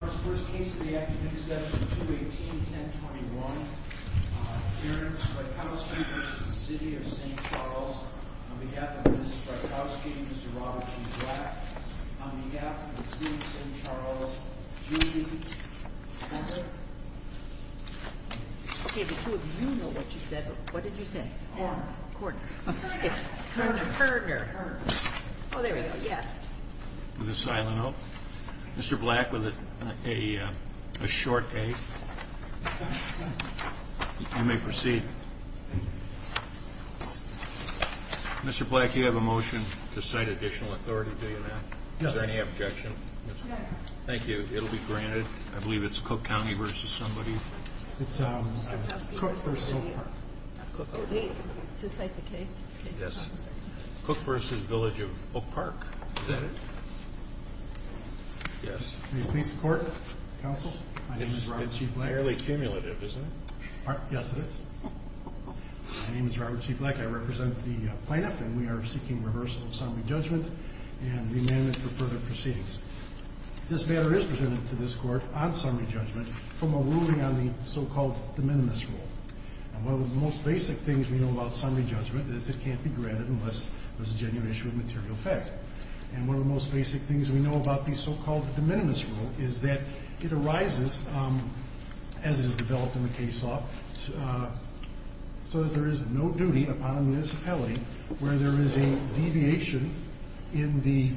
On behalf of Mrs. Strykowski and Mr. Robert G. Black, on behalf of the City of St. Charles, Judy... Okay, the two of you know what you said, but what did you say? Cordner. Cordner. It's Herner. Herner. Herner. Oh, there we go. Yes. Mr. Black with a silent O. Mr. Black with a short A. You may proceed. Mr. Black, you have a motion to cite additional authority, do you not? Yes. Is there any objection? No, no. Thank you. It'll be granted. I believe it's Cook County v. somebody. It's Cook v. Oak Park. Oh, wait. To cite the case? Yes. Cook v. Village of Oak Park. Is that it? Yes. May it please the Court? Counsel? My name is Robert G. Black. This is fairly cumulative, isn't it? Yes, it is. My name is Robert G. Black. I represent the plaintiff, and we are seeking reversal of summary judgment and remandment for further proceedings. This matter is presented to this Court on summary judgment from a ruling on the so-called de minimis rule. One of the most basic things we know about summary judgment is it can't be granted unless there's a genuine issue of material fact. And one of the most basic things we know about the so-called de minimis rule is that it arises, as it is developed in the case law, so that there is no duty upon a municipality where there is a deviation in the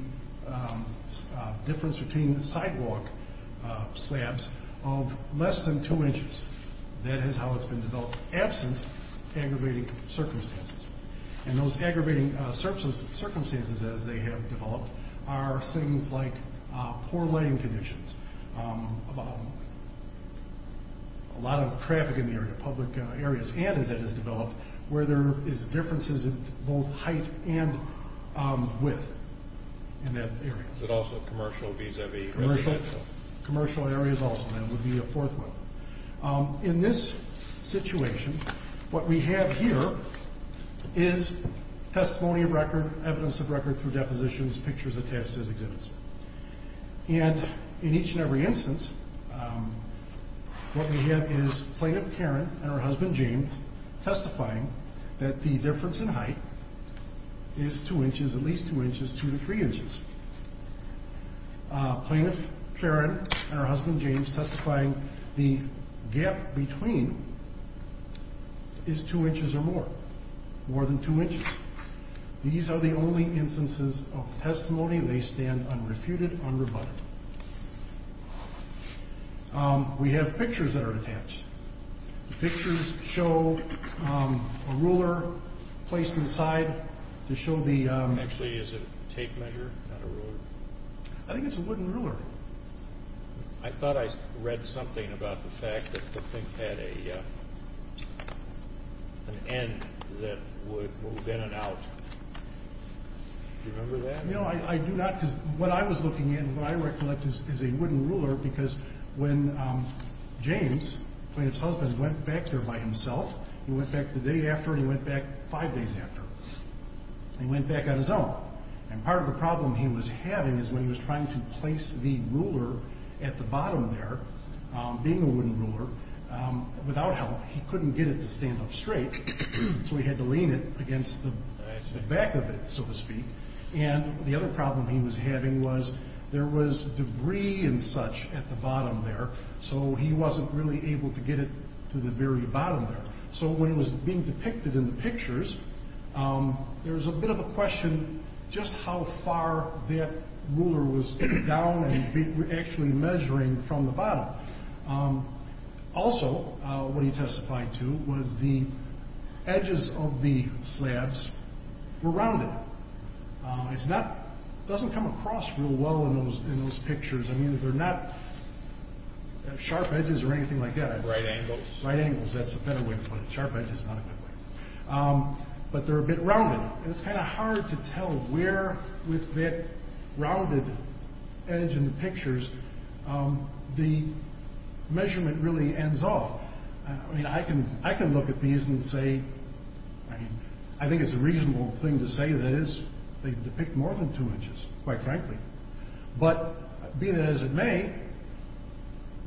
difference between sidewalk slabs of less than two inches. That is how it's been developed, absent aggravating circumstances. And those aggravating circumstances, as they have developed, are things like poor lighting conditions, a lot of traffic in the area, public areas, and, as it has developed, where there is differences in both height and width in that area. Is it also commercial vis-a-vis residential? Commercial areas also. That would be a fourth one. In this situation, what we have here is testimony of record, evidence of record through depositions, pictures attached as exhibits. And in each and every instance, what we have is Plaintiff Karen and her husband, James, testifying that the difference in height is two inches, at least two inches, two to three inches. Plaintiff Karen and her husband, James, testifying the gap between is two inches or more, more than two inches. These are the only instances of testimony. They stand unrefuted, unrebutted. We have pictures that are attached. The pictures show a ruler placed inside to show the... I think it's a wooden ruler. I thought I read something about the fact that the thing had an end that would bend it out. Do you remember that? No, I do not because what I was looking at and what I recollect is a wooden ruler because when James, Plaintiff's husband, went back there by himself, he went back the day after and he went back five days after. He went back on his own. And part of the problem he was having is when he was trying to place the ruler at the bottom there, being a wooden ruler, without help, he couldn't get it to stand up straight, so he had to lean it against the back of it, so to speak. And the other problem he was having was there was debris and such at the bottom there, so he wasn't really able to get it to the very bottom there. So when it was being depicted in the pictures, there was a bit of a question just how far that ruler was down and actually measuring from the bottom. Also, what he testified to was the edges of the slabs were rounded. It doesn't come across real well in those pictures. I mean, they're not sharp edges or anything like that. Right angles. Right angles. That's a better way to put it. Sharp edges is not a good way. But they're a bit rounded. And it's kind of hard to tell where with that rounded edge in the pictures, the measurement really ends off. I mean, I can look at these and say, I mean, I think it's a reasonable thing to say that is they depict more than two inches, quite frankly. But be that as it may,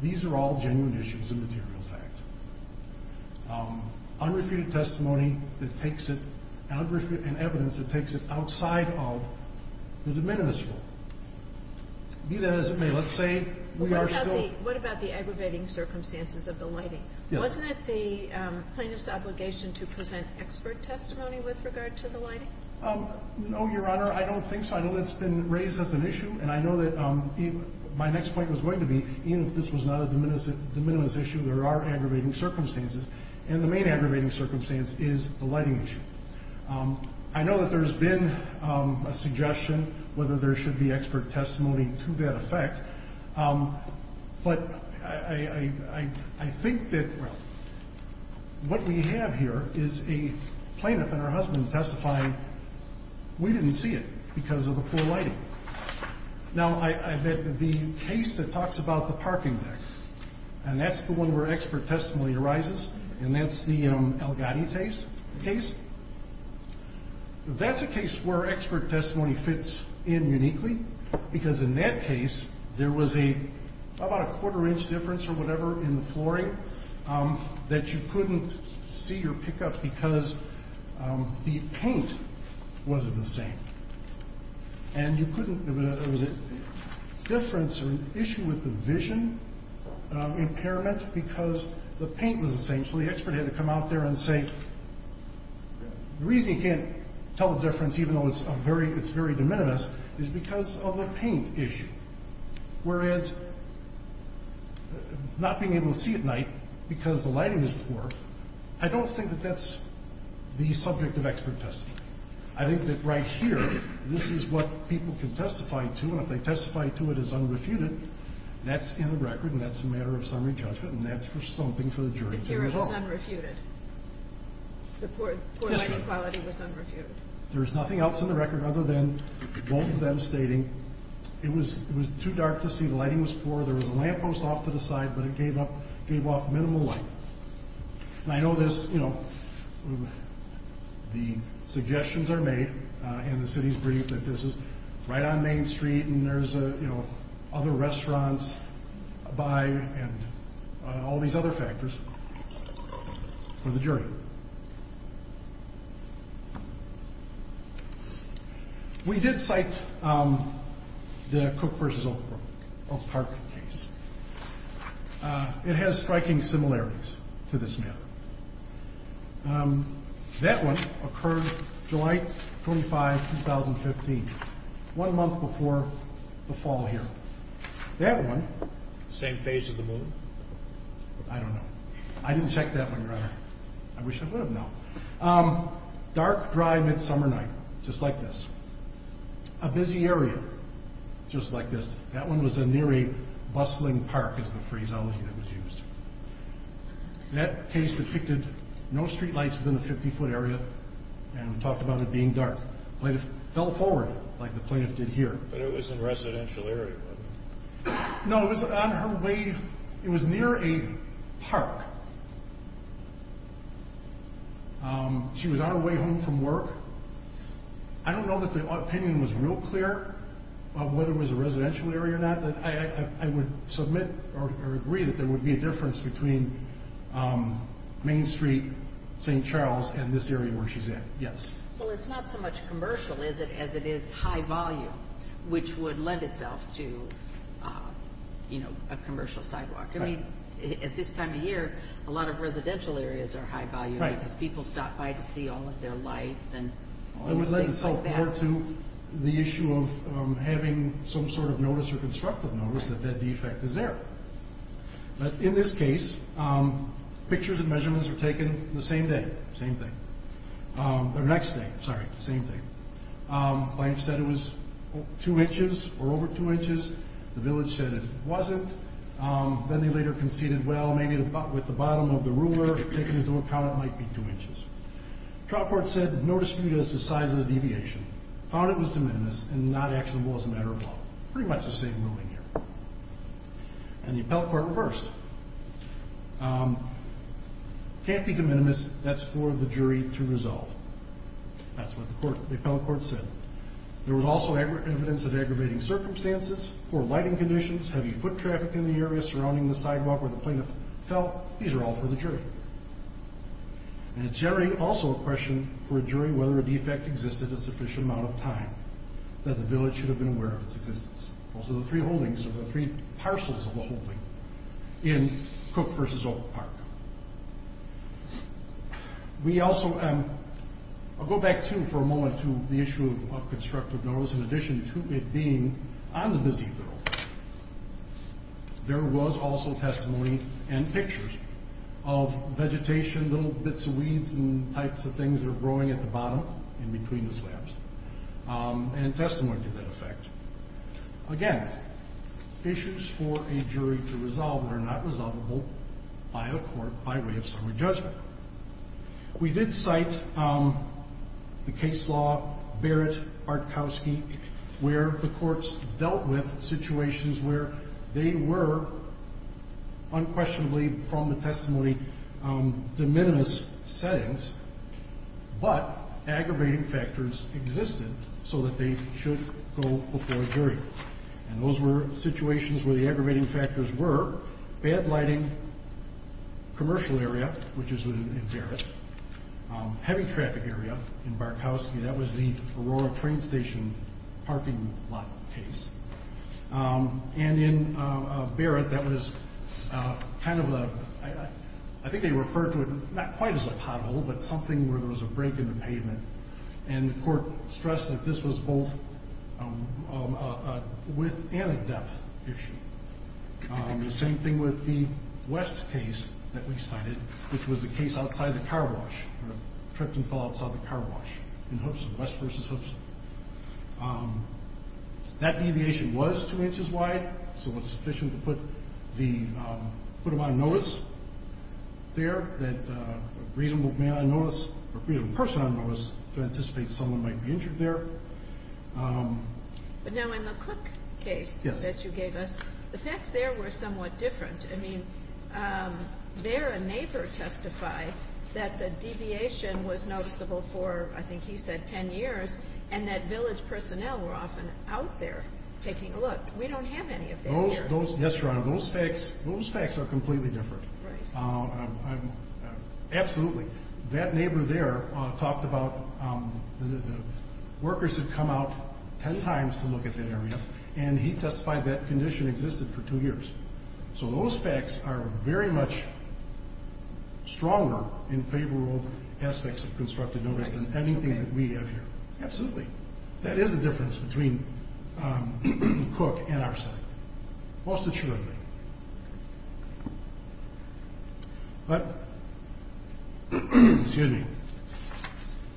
these are all genuine issues of material fact. Unrefuted testimony that takes it, and evidence that takes it outside of the de minimis rule. Be that as it may, let's say we are still. What about the aggravating circumstances of the lighting? Wasn't it the plaintiff's obligation to present expert testimony with regard to the lighting? No, Your Honor. I don't think so. I know that's been raised as an issue. And I know that my next point was going to be, even if this was not a de minimis issue, there are aggravating circumstances. And the main aggravating circumstance is the lighting issue. I know that there's been a suggestion whether there should be expert testimony to that effect. But I think that what we have here is a plaintiff and her husband testifying, we didn't see it because of the poor lighting. Now, the case that talks about the parking deck, and that's the one where expert testimony arises, and that's the El Gati case, that's a case where expert testimony fits in uniquely, because in that case there was about a quarter-inch difference or whatever in the flooring that you couldn't see or pick up because the paint wasn't the same. And you couldn't, there was a difference or an issue with the vision impairment because the paint was the same. So the expert had to come out there and say, the reason you can't tell the difference even though it's very de minimis is because of the paint issue. Whereas not being able to see at night because the lighting is poor, I don't think that that's the subject of expert testimony. I think that right here, this is what people can testify to, and if they testify to it as unrefuted, that's in the record, and that's a matter of summary judgment, and that's for something for the jury to do at all. The hearing was unrefuted. The poor lighting quality was unrefuted. There's nothing else in the record other than both of them stating it was too dark to see, the lighting was poor, there was a lamppost off to the side, but it gave off minimal light. And I know this, you know, the suggestions are made, and the city's briefed that this is right on Main Street and there's other restaurants by and all these other factors for the jury. We did cite the Cook v. Oakbrook, Oak Park case. It has striking similarities to this matter. That one occurred July 25, 2015, one month before the fall here. That one... Same phase of the moon? I don't know. I didn't check that one, Your Honor. I wish I would have known. Dark, dry, midsummer night, just like this. A busy area, just like this. That one was near a bustling park is the phraseology that was used. That case depicted no street lights within a 50-foot area, and talked about it being dark. Plaintiff fell forward like the plaintiff did here. But it was in a residential area, wasn't it? No, it was on her way. It was near a park. She was on her way home from work. I don't know that the opinion was real clear of whether it was a residential area or not. I would submit or agree that there would be a difference between Main Street, St. Charles, and this area where she's at, yes. Well, it's not so much commercial, is it, as it is high volume, which would lend itself to a commercial sidewalk. At this time of year, a lot of residential areas are high volume, because people stop by to see all of their lights and things like that. It would lend itself more to the issue of having some sort of notice or constructive notice that that defect is there. But in this case, pictures and measurements were taken the same day, same thing. The next day, sorry, same thing. Life said it was two inches or over two inches. The village said it wasn't. Then they later conceded, well, maybe with the bottom of the ruler taken into account, it might be two inches. Trial court said no dispute as to the size of the deviation. Found it was de minimis and not actionable as a matter of law. Pretty much the same ruling here. And the appellate court reversed. Can't be de minimis. That's for the jury to resolve. That's what the appellate court said. There was also evidence of aggravating circumstances, poor lighting conditions, heavy foot traffic in the area surrounding the sidewalk where the plaintiff fell. These are all for the jury. And it's generally also a question for a jury whether a defect existed a sufficient amount of time, that the village should have been aware of its existence. Those are the three holdings or the three parcels of the holding in Cook v. Oak Park. We also go back, too, for a moment to the issue of constructive notice, in addition to it being on the busy thoroughfare. There was also testimony and pictures of vegetation, little bits of weeds and types of things that are growing at the bottom and between the slabs. And testimony to that effect. Again, issues for a jury to resolve that are not resolvable by a court by way of summary judgment. We did cite the case law, Barrett, Bartkowski, where the courts dealt with situations where they were unquestionably from the testimony de minimis settings, but aggravating factors existed so that they should go before a jury. And those were situations where the aggravating factors were bad lighting, commercial area, which is in Barrett, heavy traffic area in Bartkowski. That was the Aurora train station parking lot case. And in Barrett, that was kind of a, I think they referred to it not quite as a pothole, but something where there was a break in the pavement. And the court stressed that this was both a width and a depth issue. The same thing with the West case that we cited, which was the case outside the car wash. Tripped and fell outside the car wash in Hoopson, West versus Hoopson. That deviation was two inches wide, so it was sufficient to put the, put him on notice there, that a reasonable man on notice or a reasonable person on notice to anticipate someone might be injured there. But now in the Cook case that you gave us, the facts there were somewhat different. I mean, there a neighbor testified that the deviation was noticeable for, I think he said, 10 years. And that village personnel were often out there taking a look. We don't have any of that here. Yes, Your Honor. Those facts are completely different. Right. Absolutely. That neighbor there talked about the workers had come out 10 times to look at that area, and he testified that condition existed for two years. So those facts are very much stronger in favor of aspects of constructive notice than anything that we have here. Absolutely. That is the difference between Cook and our side, most assuredly. But, excuse me,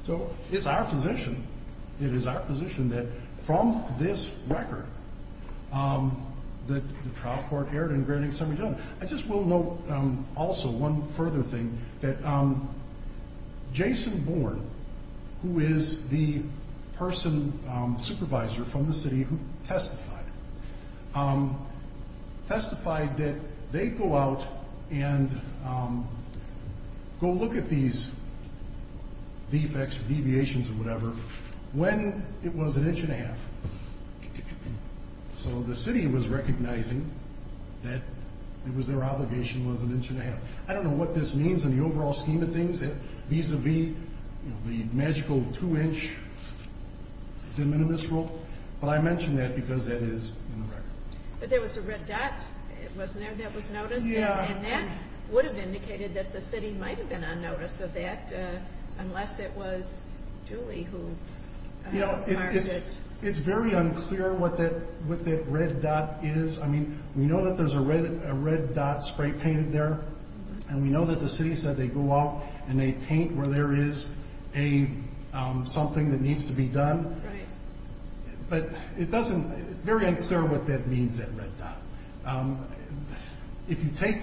so it's our position, it is our position that from this record, that the trial court erred in granting summary judgment. I just will note also one further thing, that Jason Bourne, who is the person supervisor from the city who testified, testified that they go out and go look at these defects or deviations or whatever when it was an inch and a half. So the city was recognizing that it was their obligation, it was an inch and a half. I don't know what this means in the overall scheme of things, vis-a-vis the magical two-inch de minimis rule, but I mention that because that is in the record. But there was a red dot, wasn't there, that was noticed? Yeah. And that would have indicated that the city might have been on notice of that, unless it was Julie who marked it. You know, it's very unclear what that red dot is. I mean, we know that there's a red dot spray painted there, and we know that the city said they go out and they paint where there is something that needs to be done. Right. But it's very unclear what that means, that red dot. If you take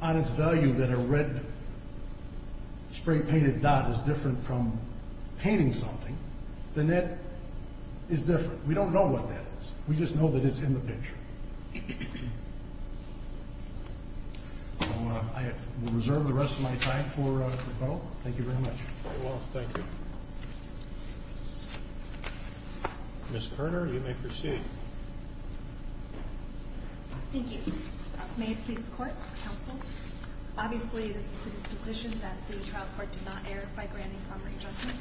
on its value that a red spray painted dot is different from painting something, the net is different. We don't know what that is. We just know that it's in the picture. I will reserve the rest of my time for rebuttal. Thank you very much. Very well. Thank you. Ms. Kerner, you may proceed. Thank you. May it please the Court, Counsel, obviously this is a disposition that the trial court did not err by granting summary judgment.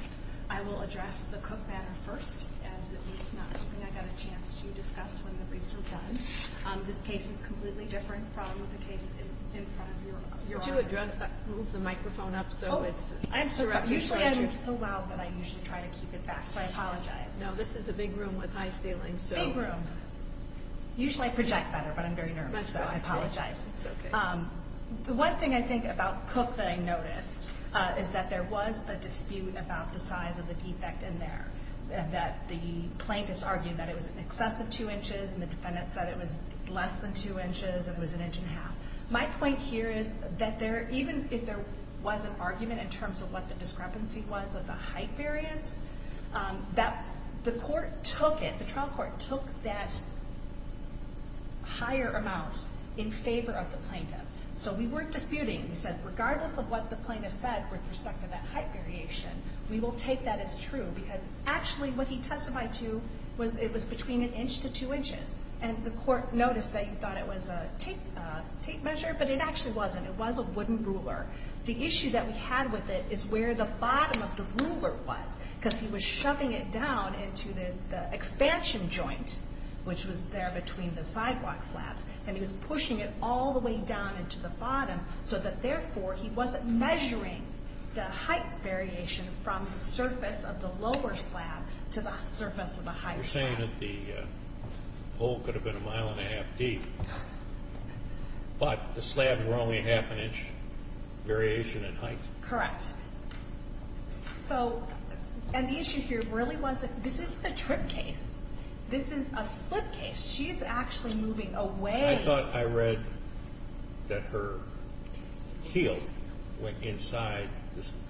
I will address the Cook matter first, as at least not something I got a chance to discuss when the briefs were done. This case is completely different from the case in front of your audience. Would you move the microphone up so it's— Oh, I'm sorry. Usually I move so loud that I usually try to keep it back, so I apologize. No, this is a big room with high ceilings, so— Big room. That's okay. The one thing I think about Cook that I noticed is that there was a dispute about the size of the defect in there, that the plaintiffs argued that it was in excess of two inches, and the defendant said it was less than two inches and was an inch and a half. My point here is that even if there was an argument in terms of what the discrepancy was of the height variance, the court took it, the trial court took that higher amount in favor of the plaintiff. So we weren't disputing. We said, regardless of what the plaintiff said with respect to that height variation, we will take that as true, because actually what he testified to was it was between an inch to two inches. And the court noticed that you thought it was a tape measure, but it actually wasn't. It was a wooden ruler. The issue that we had with it is where the bottom of the ruler was, because he was shoving it down into the expansion joint, which was there between the sidewalk slabs, and he was pushing it all the way down into the bottom so that therefore he wasn't measuring the height variation from the surface of the lower slab to the surface of the higher slab. You're saying that the hole could have been a mile and a half deep, but the slabs were only half an inch variation in height? Correct. So, and the issue here really was that this isn't a trip case. This is a slip case. She's actually moving away. I thought I read that her heel went inside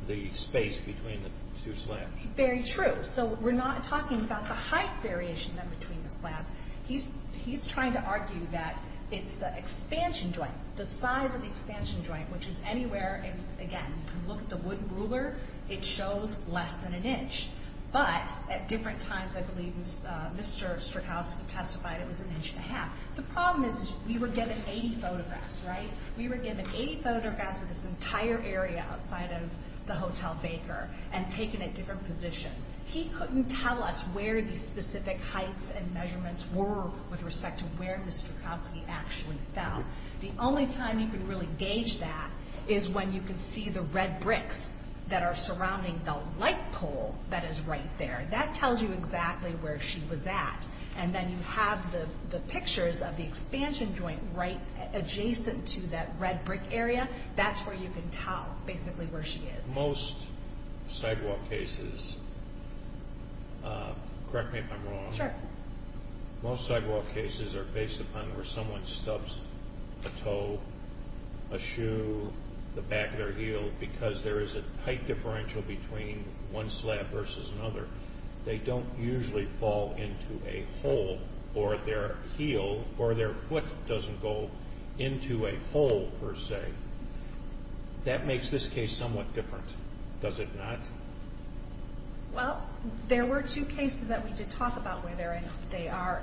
the space between the two slabs. Very true. So we're not talking about the height variation then between the slabs. He's trying to argue that it's the expansion joint, the size of the expansion joint, which is anywhere, again, if you look at the wooden ruler, it shows less than an inch, but at different times I believe Mr. Strakowski testified it was an inch and a half. The problem is we were given 80 photographs, right? We were given 80 photographs of this entire area outside of the Hotel Baker and taken at different positions. He couldn't tell us where these specific heights and measurements were with respect to where Mr. Strakowski actually fell. The only time you can really gauge that is when you can see the red bricks that are surrounding the light pole that is right there. That tells you exactly where she was at. And then you have the pictures of the expansion joint right adjacent to that red brick area. That's where you can tell basically where she is. Sure. Most sidewall cases are based upon where someone stubs a toe, a shoe, the back of their heel, because there is a tight differential between one slab versus another. They don't usually fall into a hole or their heel or their foot doesn't go into a hole per se. That makes this case somewhat different, does it not? Well, there were two cases that we did talk about where they are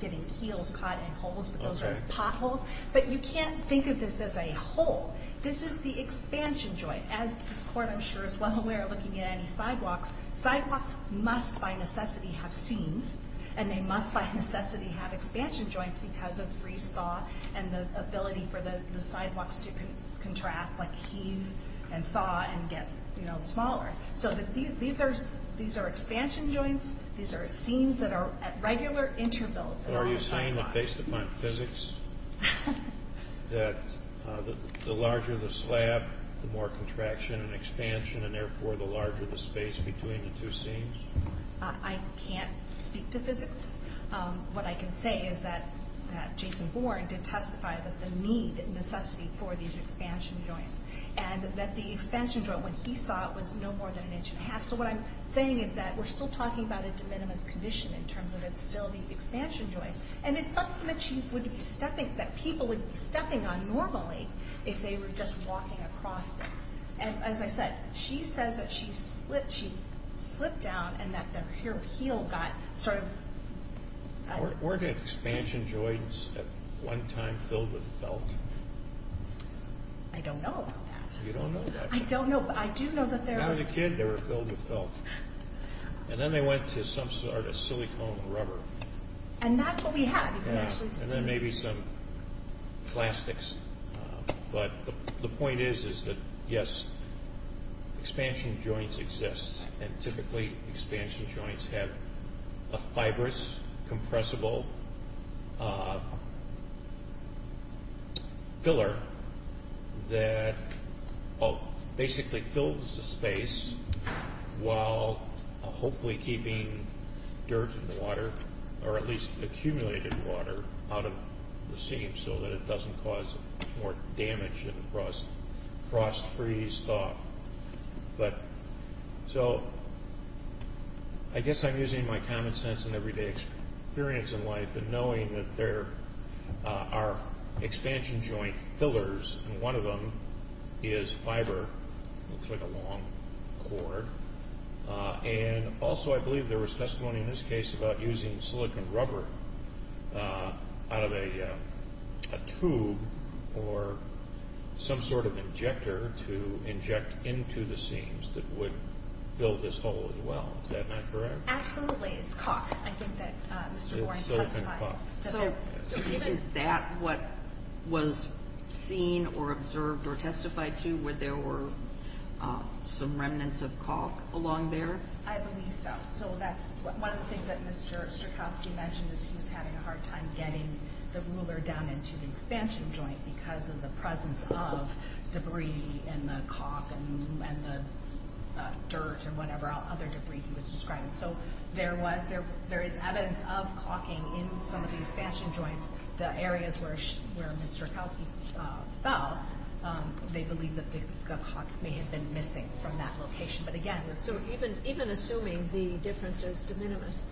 getting heels caught in holes, but those are potholes. But you can't think of this as a hole. This is the expansion joint. As this court, I'm sure, is well aware looking at any sidewalks, sidewalks must by necessity have seams, and they must by necessity have expansion joints because of freeze-thaw and the ability for the sidewalks to contract like heave and thaw and get smaller. So these are expansion joints. These are seams that are at regular intervals. Are you saying that based upon physics that the larger the slab, the more contraction and expansion, and therefore the larger the space between the two seams? I can't speak to physics. What I can say is that Jason Bourne did testify that the need and necessity for these expansion joints and that the expansion joint when he saw it was no more than an inch and a half. So what I'm saying is that we're still talking about a de minimis condition in terms of the expansion joints, and it's something that people would be stepping on normally if they were just walking across this. And as I said, she says that she slipped down and that her heel got sort of... Weren't expansion joints at one time filled with felt? I don't know about that. You don't know about that. I don't know, but I do know that there was... When I was a kid, they were filled with felt. And then they went to some sort of silicone rubber. And that's what we had. And then maybe some plastics. But the point is that, yes, expansion joints exist, and typically expansion joints have a fibrous compressible filler that basically fills the space while hopefully keeping dirt in the water or at least accumulated water out of the seam so that it doesn't cause more damage in the frost-free stock. So I guess I'm using my common sense and everyday experience in life and knowing that there are expansion joint fillers, and one of them is fiber. It looks like a long cord. And also I believe there was testimony in this case about using silicone rubber out of a tube or some sort of injector to inject into the seams that would fill this hole as well. Is that not correct? Absolutely. It's caulk. I think that Mr. Warren testified. It's silicone caulk. So is that what was seen or observed or testified to, where there were some remnants of caulk along there? I believe so. So that's one of the things that Mr. Strakowski mentioned is he was having a hard time getting the ruler down into the expansion joint because of the presence of debris in the caulk and the dirt or whatever other debris he was describing. So there is evidence of caulking in some of the expansion joints. The areas where Mr. Strakowski fell, they believe that the caulk may have been missing from that location. So even assuming the difference is de minimis,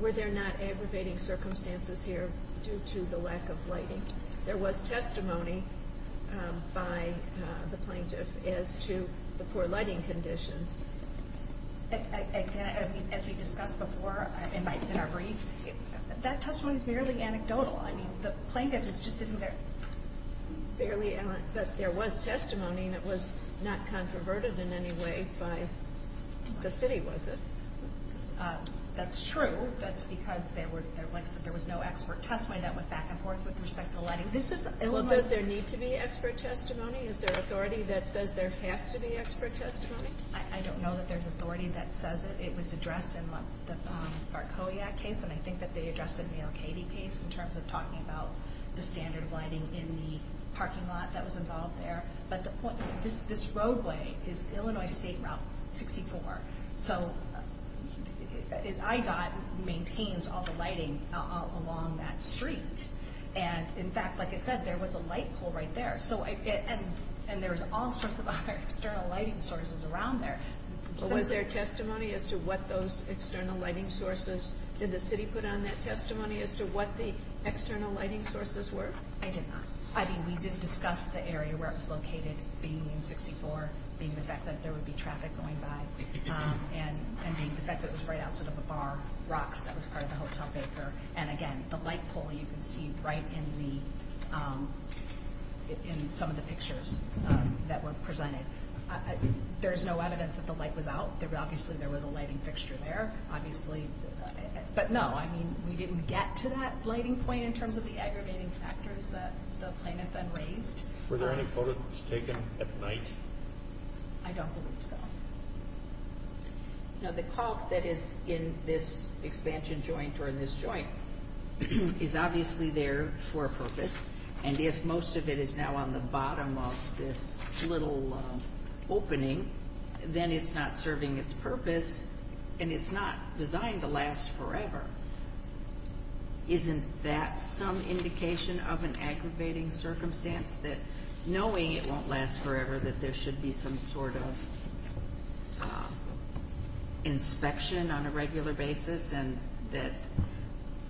were there not aggravating circumstances here due to the lack of lighting? There was testimony by the plaintiff as to the poor lighting conditions. As we discussed before in our brief, that testimony is merely anecdotal. I mean, the plaintiff is just sitting there. But there was testimony that was not controverted in any way by the city, was it? That's true. That's because there was no expert testimony that went back and forth with respect to lighting. Well, does there need to be expert testimony? Is there authority that says there has to be expert testimony? I don't know that there's authority that says it. It was addressed in the Barcoyak case, and I think that they addressed it in the O'Kady case in terms of talking about the standard lighting in the parking lot that was involved there. But this roadway is Illinois State Route 64. So IDOT maintains all the lighting along that street. And, in fact, like I said, there was a light pole right there. And there's all sorts of other external lighting sources around there. Was there testimony as to what those external lighting sources, did the city put on that testimony as to what the external lighting sources were? I did not. I mean, we did discuss the area where it was located being in 64, being the fact that there would be traffic going by, and the fact that it was right outside of the bar rocks that was part of the hotel paper. And, again, the light pole you can see right in some of the pictures that were presented. There's no evidence that the light was out. Obviously, there was a lighting fixture there, obviously. But, no, I mean, we didn't get to that lighting point in terms of the aggravating factors that the plaintiff had raised. Were there any photos taken at night? I don't believe so. Now, the caulk that is in this expansion joint or in this joint is obviously there for a purpose. And if most of it is now on the bottom of this little opening, then it's not serving its purpose, and it's not designed to last forever. Isn't that some indication of an aggravating circumstance that knowing it won't last forever that there should be some sort of inspection on a regular basis and that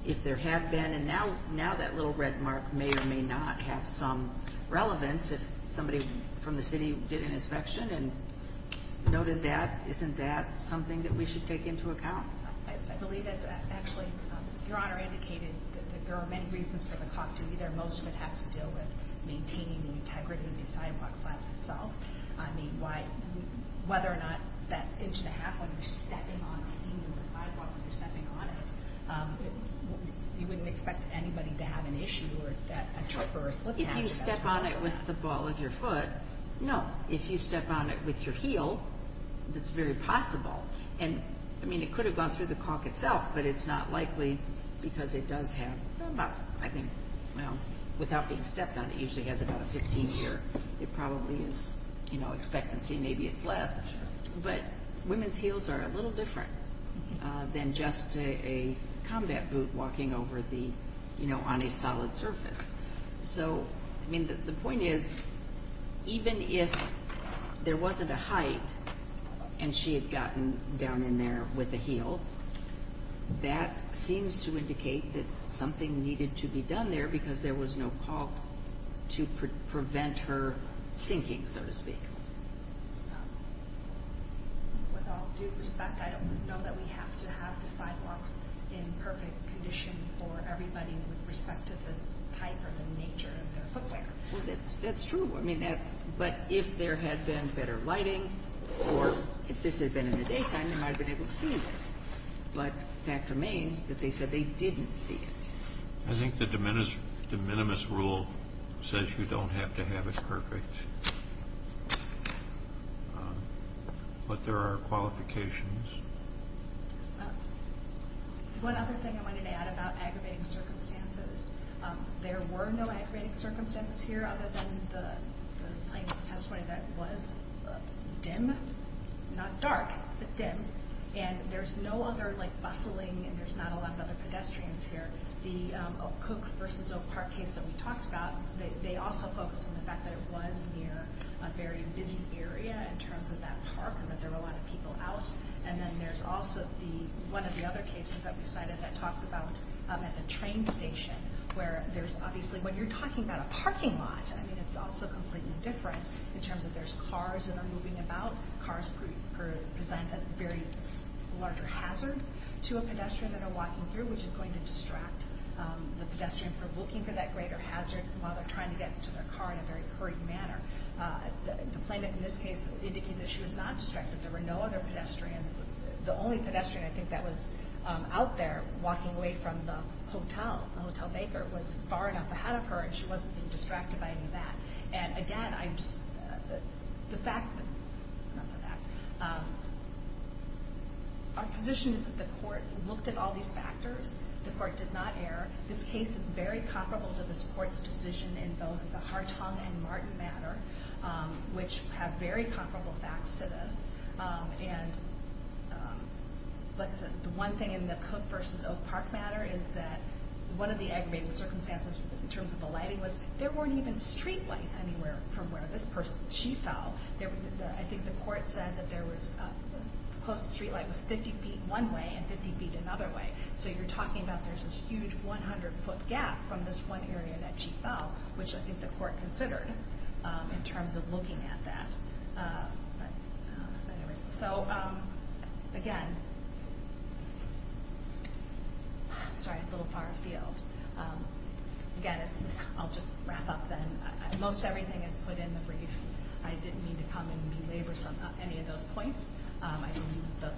if there had been, and now that little red mark may or may not have some relevance if somebody from the city did an inspection and noted that, isn't that something that we should take into account? I believe that's actually, Your Honor indicated that there are many reasons for the caulk to be there. Most of it has to do with maintaining the integrity of the sidewalk slabs itself. I mean, whether or not that inch and a half when you're stepping on a seam in the sidewalk when you're stepping on it, you wouldn't expect anybody to have an issue or a trip or a slip patch. If you step on it with the ball of your foot, no. If you step on it with your heel, that's very possible. I mean, it could have gone through the caulk itself, but it's not likely because it does have about, I think, without being stepped on, it usually has about a 15-year expectancy, maybe it's less. But women's heels are a little different than just a combat boot walking on a solid surface. So, I mean, the point is, even if there wasn't a height and she had gotten down in there with a heel, that seems to indicate that something needed to be done there because there was no caulk to prevent her sinking, so to speak. With all due respect, I don't know that we have to have the sidewalks in perfect condition for everybody with respect to the type or the nature of their footwear. Well, that's true. But if there had been better lighting or if this had been in the daytime, they might have been able to see this. But the fact remains that they said they didn't see it. I think the de minimis rule says you don't have to have it perfect. But there are qualifications. One other thing I wanted to add about aggravating circumstances. There were no aggravating circumstances here other than the plaintiff's testimony that was dim, not dark, but dim. And there's no other, like, bustling and there's not a lot of other pedestrians here. The Cook versus Oak Park case that we talked about, they also focused on the fact that it was near a very busy area in terms of that park and that there were a lot of people out. And then there's also one of the other cases that we cited that talks about at the train station, where there's obviously when you're talking about a parking lot, I mean, it's also completely different in terms of there's cars that are moving about. Cars present a very larger hazard to a pedestrian that are walking through, which is going to distract the pedestrian from looking for that greater hazard while they're trying to get to their car in a very hurried manner. The plaintiff in this case indicated that she was not distracted. There were no other pedestrians. The only pedestrian, I think, that was out there walking away from the hotel, the hotel maker, was far enough ahead of her, and she wasn't being distracted by any of that. And again, I just, the fact that, not the fact. Our position is that the court looked at all these factors. The court did not err. This case is very comparable to this court's decision in both the Hartung and Martin matter, which have very comparable facts to this. And the one thing in the Cook v. Oak Park matter is that one of the aggravating circumstances in terms of the lighting was there weren't even streetlights anywhere from where this person, she fell. I think the court said that the closest streetlight was 50 feet one way and 50 feet another way. So you're talking about there's this huge 100-foot gap from this one area that she fell, which I think the court considered in terms of looking at that. So again, sorry, a little far afield. Again, I'll just wrap up then. Most everything is put in the brief. I didn't mean to come and belabor any of those points. I believe the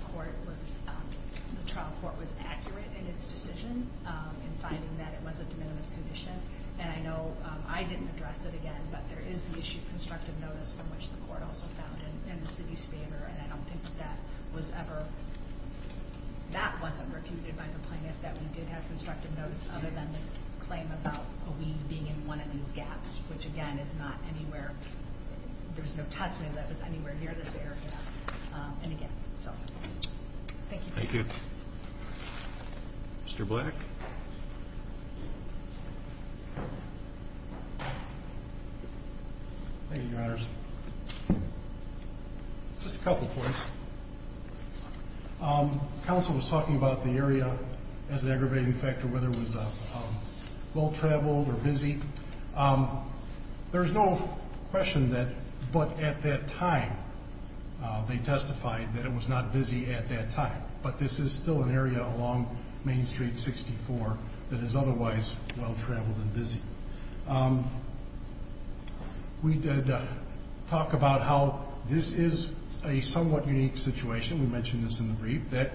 trial court was accurate in its decision in finding that it was a de minimis condition. And I know I didn't address it again, but there is the issue of constructive notice, from which the court also found in the city's favor. And I don't think that was ever, that wasn't refuted by the plaintiff, that we did have constructive notice other than this claim about a weed being in one of these gaps, which again is not anywhere, there's no testimony that it was anywhere near this area. And again, so thank you. Thank you. Mr. Black? Thank you, Your Honors. Just a couple of points. Counsel was talking about the area as an aggravating factor, whether it was well-traveled or busy. There is no question that, but at that time, they testified that it was not busy at that time. But this is still an area along Main Street 64 that is otherwise well-traveled and busy. We did talk about how this is a somewhat unique situation. We mentioned this in the brief, that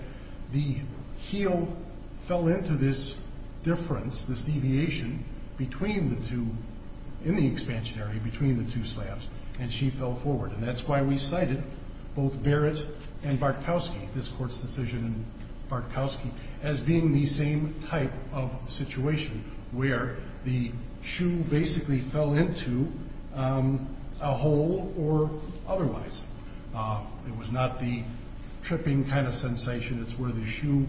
the heel fell into this difference, this deviation between the two, in the expansionary, between the two slabs, and she fell forward. And that's why we cited both Barrett and Bartkowski, this court's decision in Bartkowski, as being the same type of situation where the shoe basically fell into a hole or otherwise. It was not the tripping kind of sensation. It's where the shoe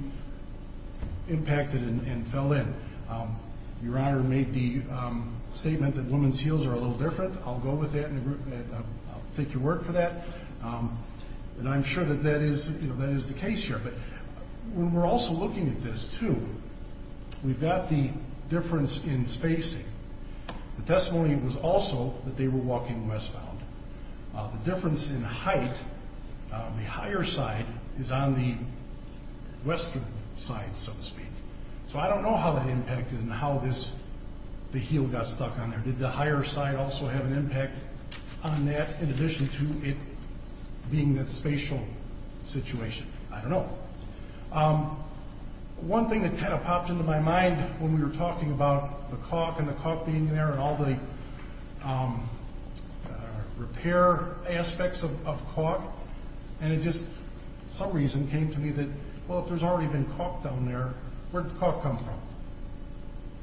impacted and fell in. Your Honor made the statement that women's heels are a little different. I'll go with that, and I'll take your word for that. And I'm sure that that is the case here. But when we're also looking at this, too, we've got the difference in spacing. The testimony was also that they were walking westbound. The difference in height, the higher side, is on the western side, so to speak. So I don't know how that impacted and how the heel got stuck on there. Did the higher side also have an impact on that in addition to it being that spatial situation? I don't know. One thing that kind of popped into my mind when we were talking about the caulk and the caulk being there and all the repair aspects of caulk, and it just for some reason came to me that, well, if there's already been caulk down there, where did the caulk come from?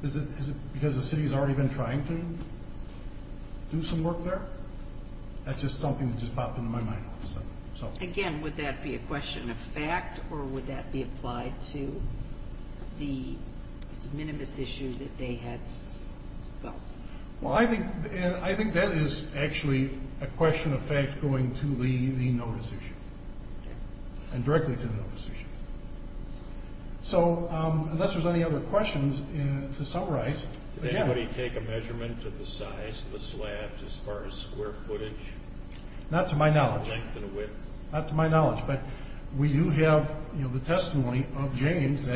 Is it because the city's already been trying to do some work there? Again, would that be a question of fact, or would that be applied to the minimalist issue that they had? Well, I think that is actually a question of fact going to the notice issue and directly to the notice issue. So unless there's any other questions, to summarize. Did anybody take a measurement of the size of the slabs as far as square footage? Not to my knowledge. Length and width? Not to my knowledge. But we do have the testimony of James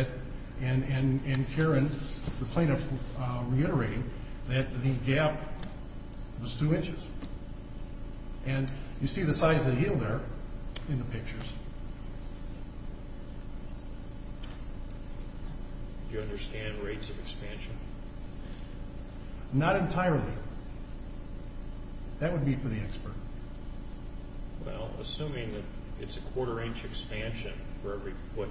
and Karen, the plaintiff, reiterating that the gap was two inches. And you see the size of the heel there in the pictures. Do you understand rates of expansion? Not entirely. That would be for the expert. Well, assuming that it's a quarter-inch expansion for every foot,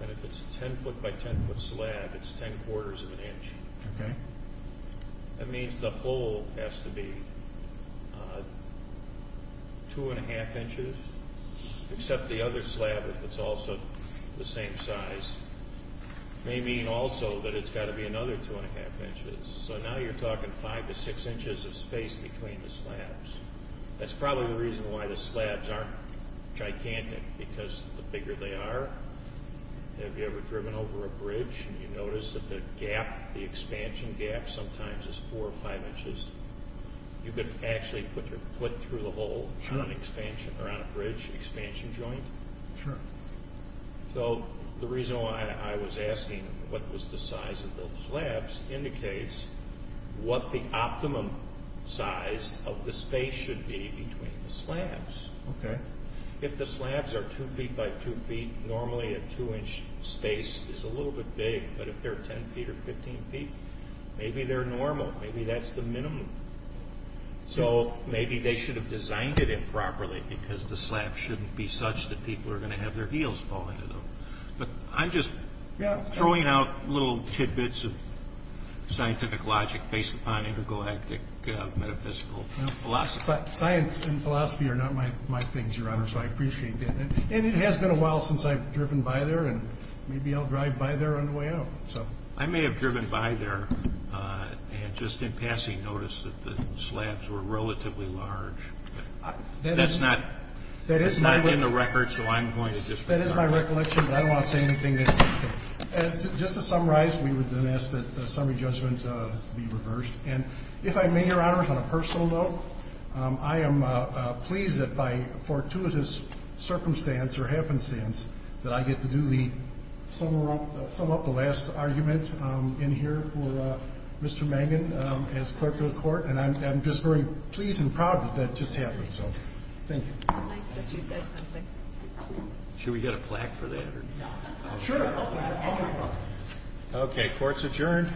and if it's a ten-foot by ten-foot slab, it's ten-quarters of an inch. Okay. That means the hole has to be two-and-a-half inches, except the other slab, if it's also the same size, may mean also that it's got to be another two-and-a-half inches. So now you're talking five to six inches of space between the slabs. That's probably the reason why the slabs aren't gigantic, because the bigger they are, have you ever driven over a bridge and you notice that the gap, the expansion gap, sometimes is four or five inches? You could actually put your foot through the hole on an expansion or on a bridge expansion joint? Sure. So the reason why I was asking what was the size of the slabs indicates what the optimum size of the space should be between the slabs. Okay. If the slabs are two feet by two feet, normally a two-inch space is a little bit big, but if they're ten feet or fifteen feet, maybe they're normal. Maybe that's the minimum. So maybe they should have designed it improperly, because the slabs shouldn't be such that people are going to have their heels fall into them. But I'm just throwing out little tidbits of scientific logic based upon intergalactic metaphysical philosophy. Science and philosophy are not my things, Your Honor, so I appreciate that. And it has been a while since I've driven by there, and maybe I'll drive by there on the way out. I may have driven by there and just in passing noticed that the slabs were relatively large. That's not in the record, so I'm going to just resign. That is my recollection, but I don't want to say anything that's not true. Just to summarize, we would then ask that the summary judgment be reversed. And if I may, Your Honor, on a personal note, I am pleased that by fortuitous circumstance or happenstance that I get to do the sum up the last argument in here for Mr. Mangan as clerk of the court, and I'm just very pleased and proud that that just happened. So thank you. Nice that you said something. Should we get a plaque for that? Sure. Okay, court's adjourned.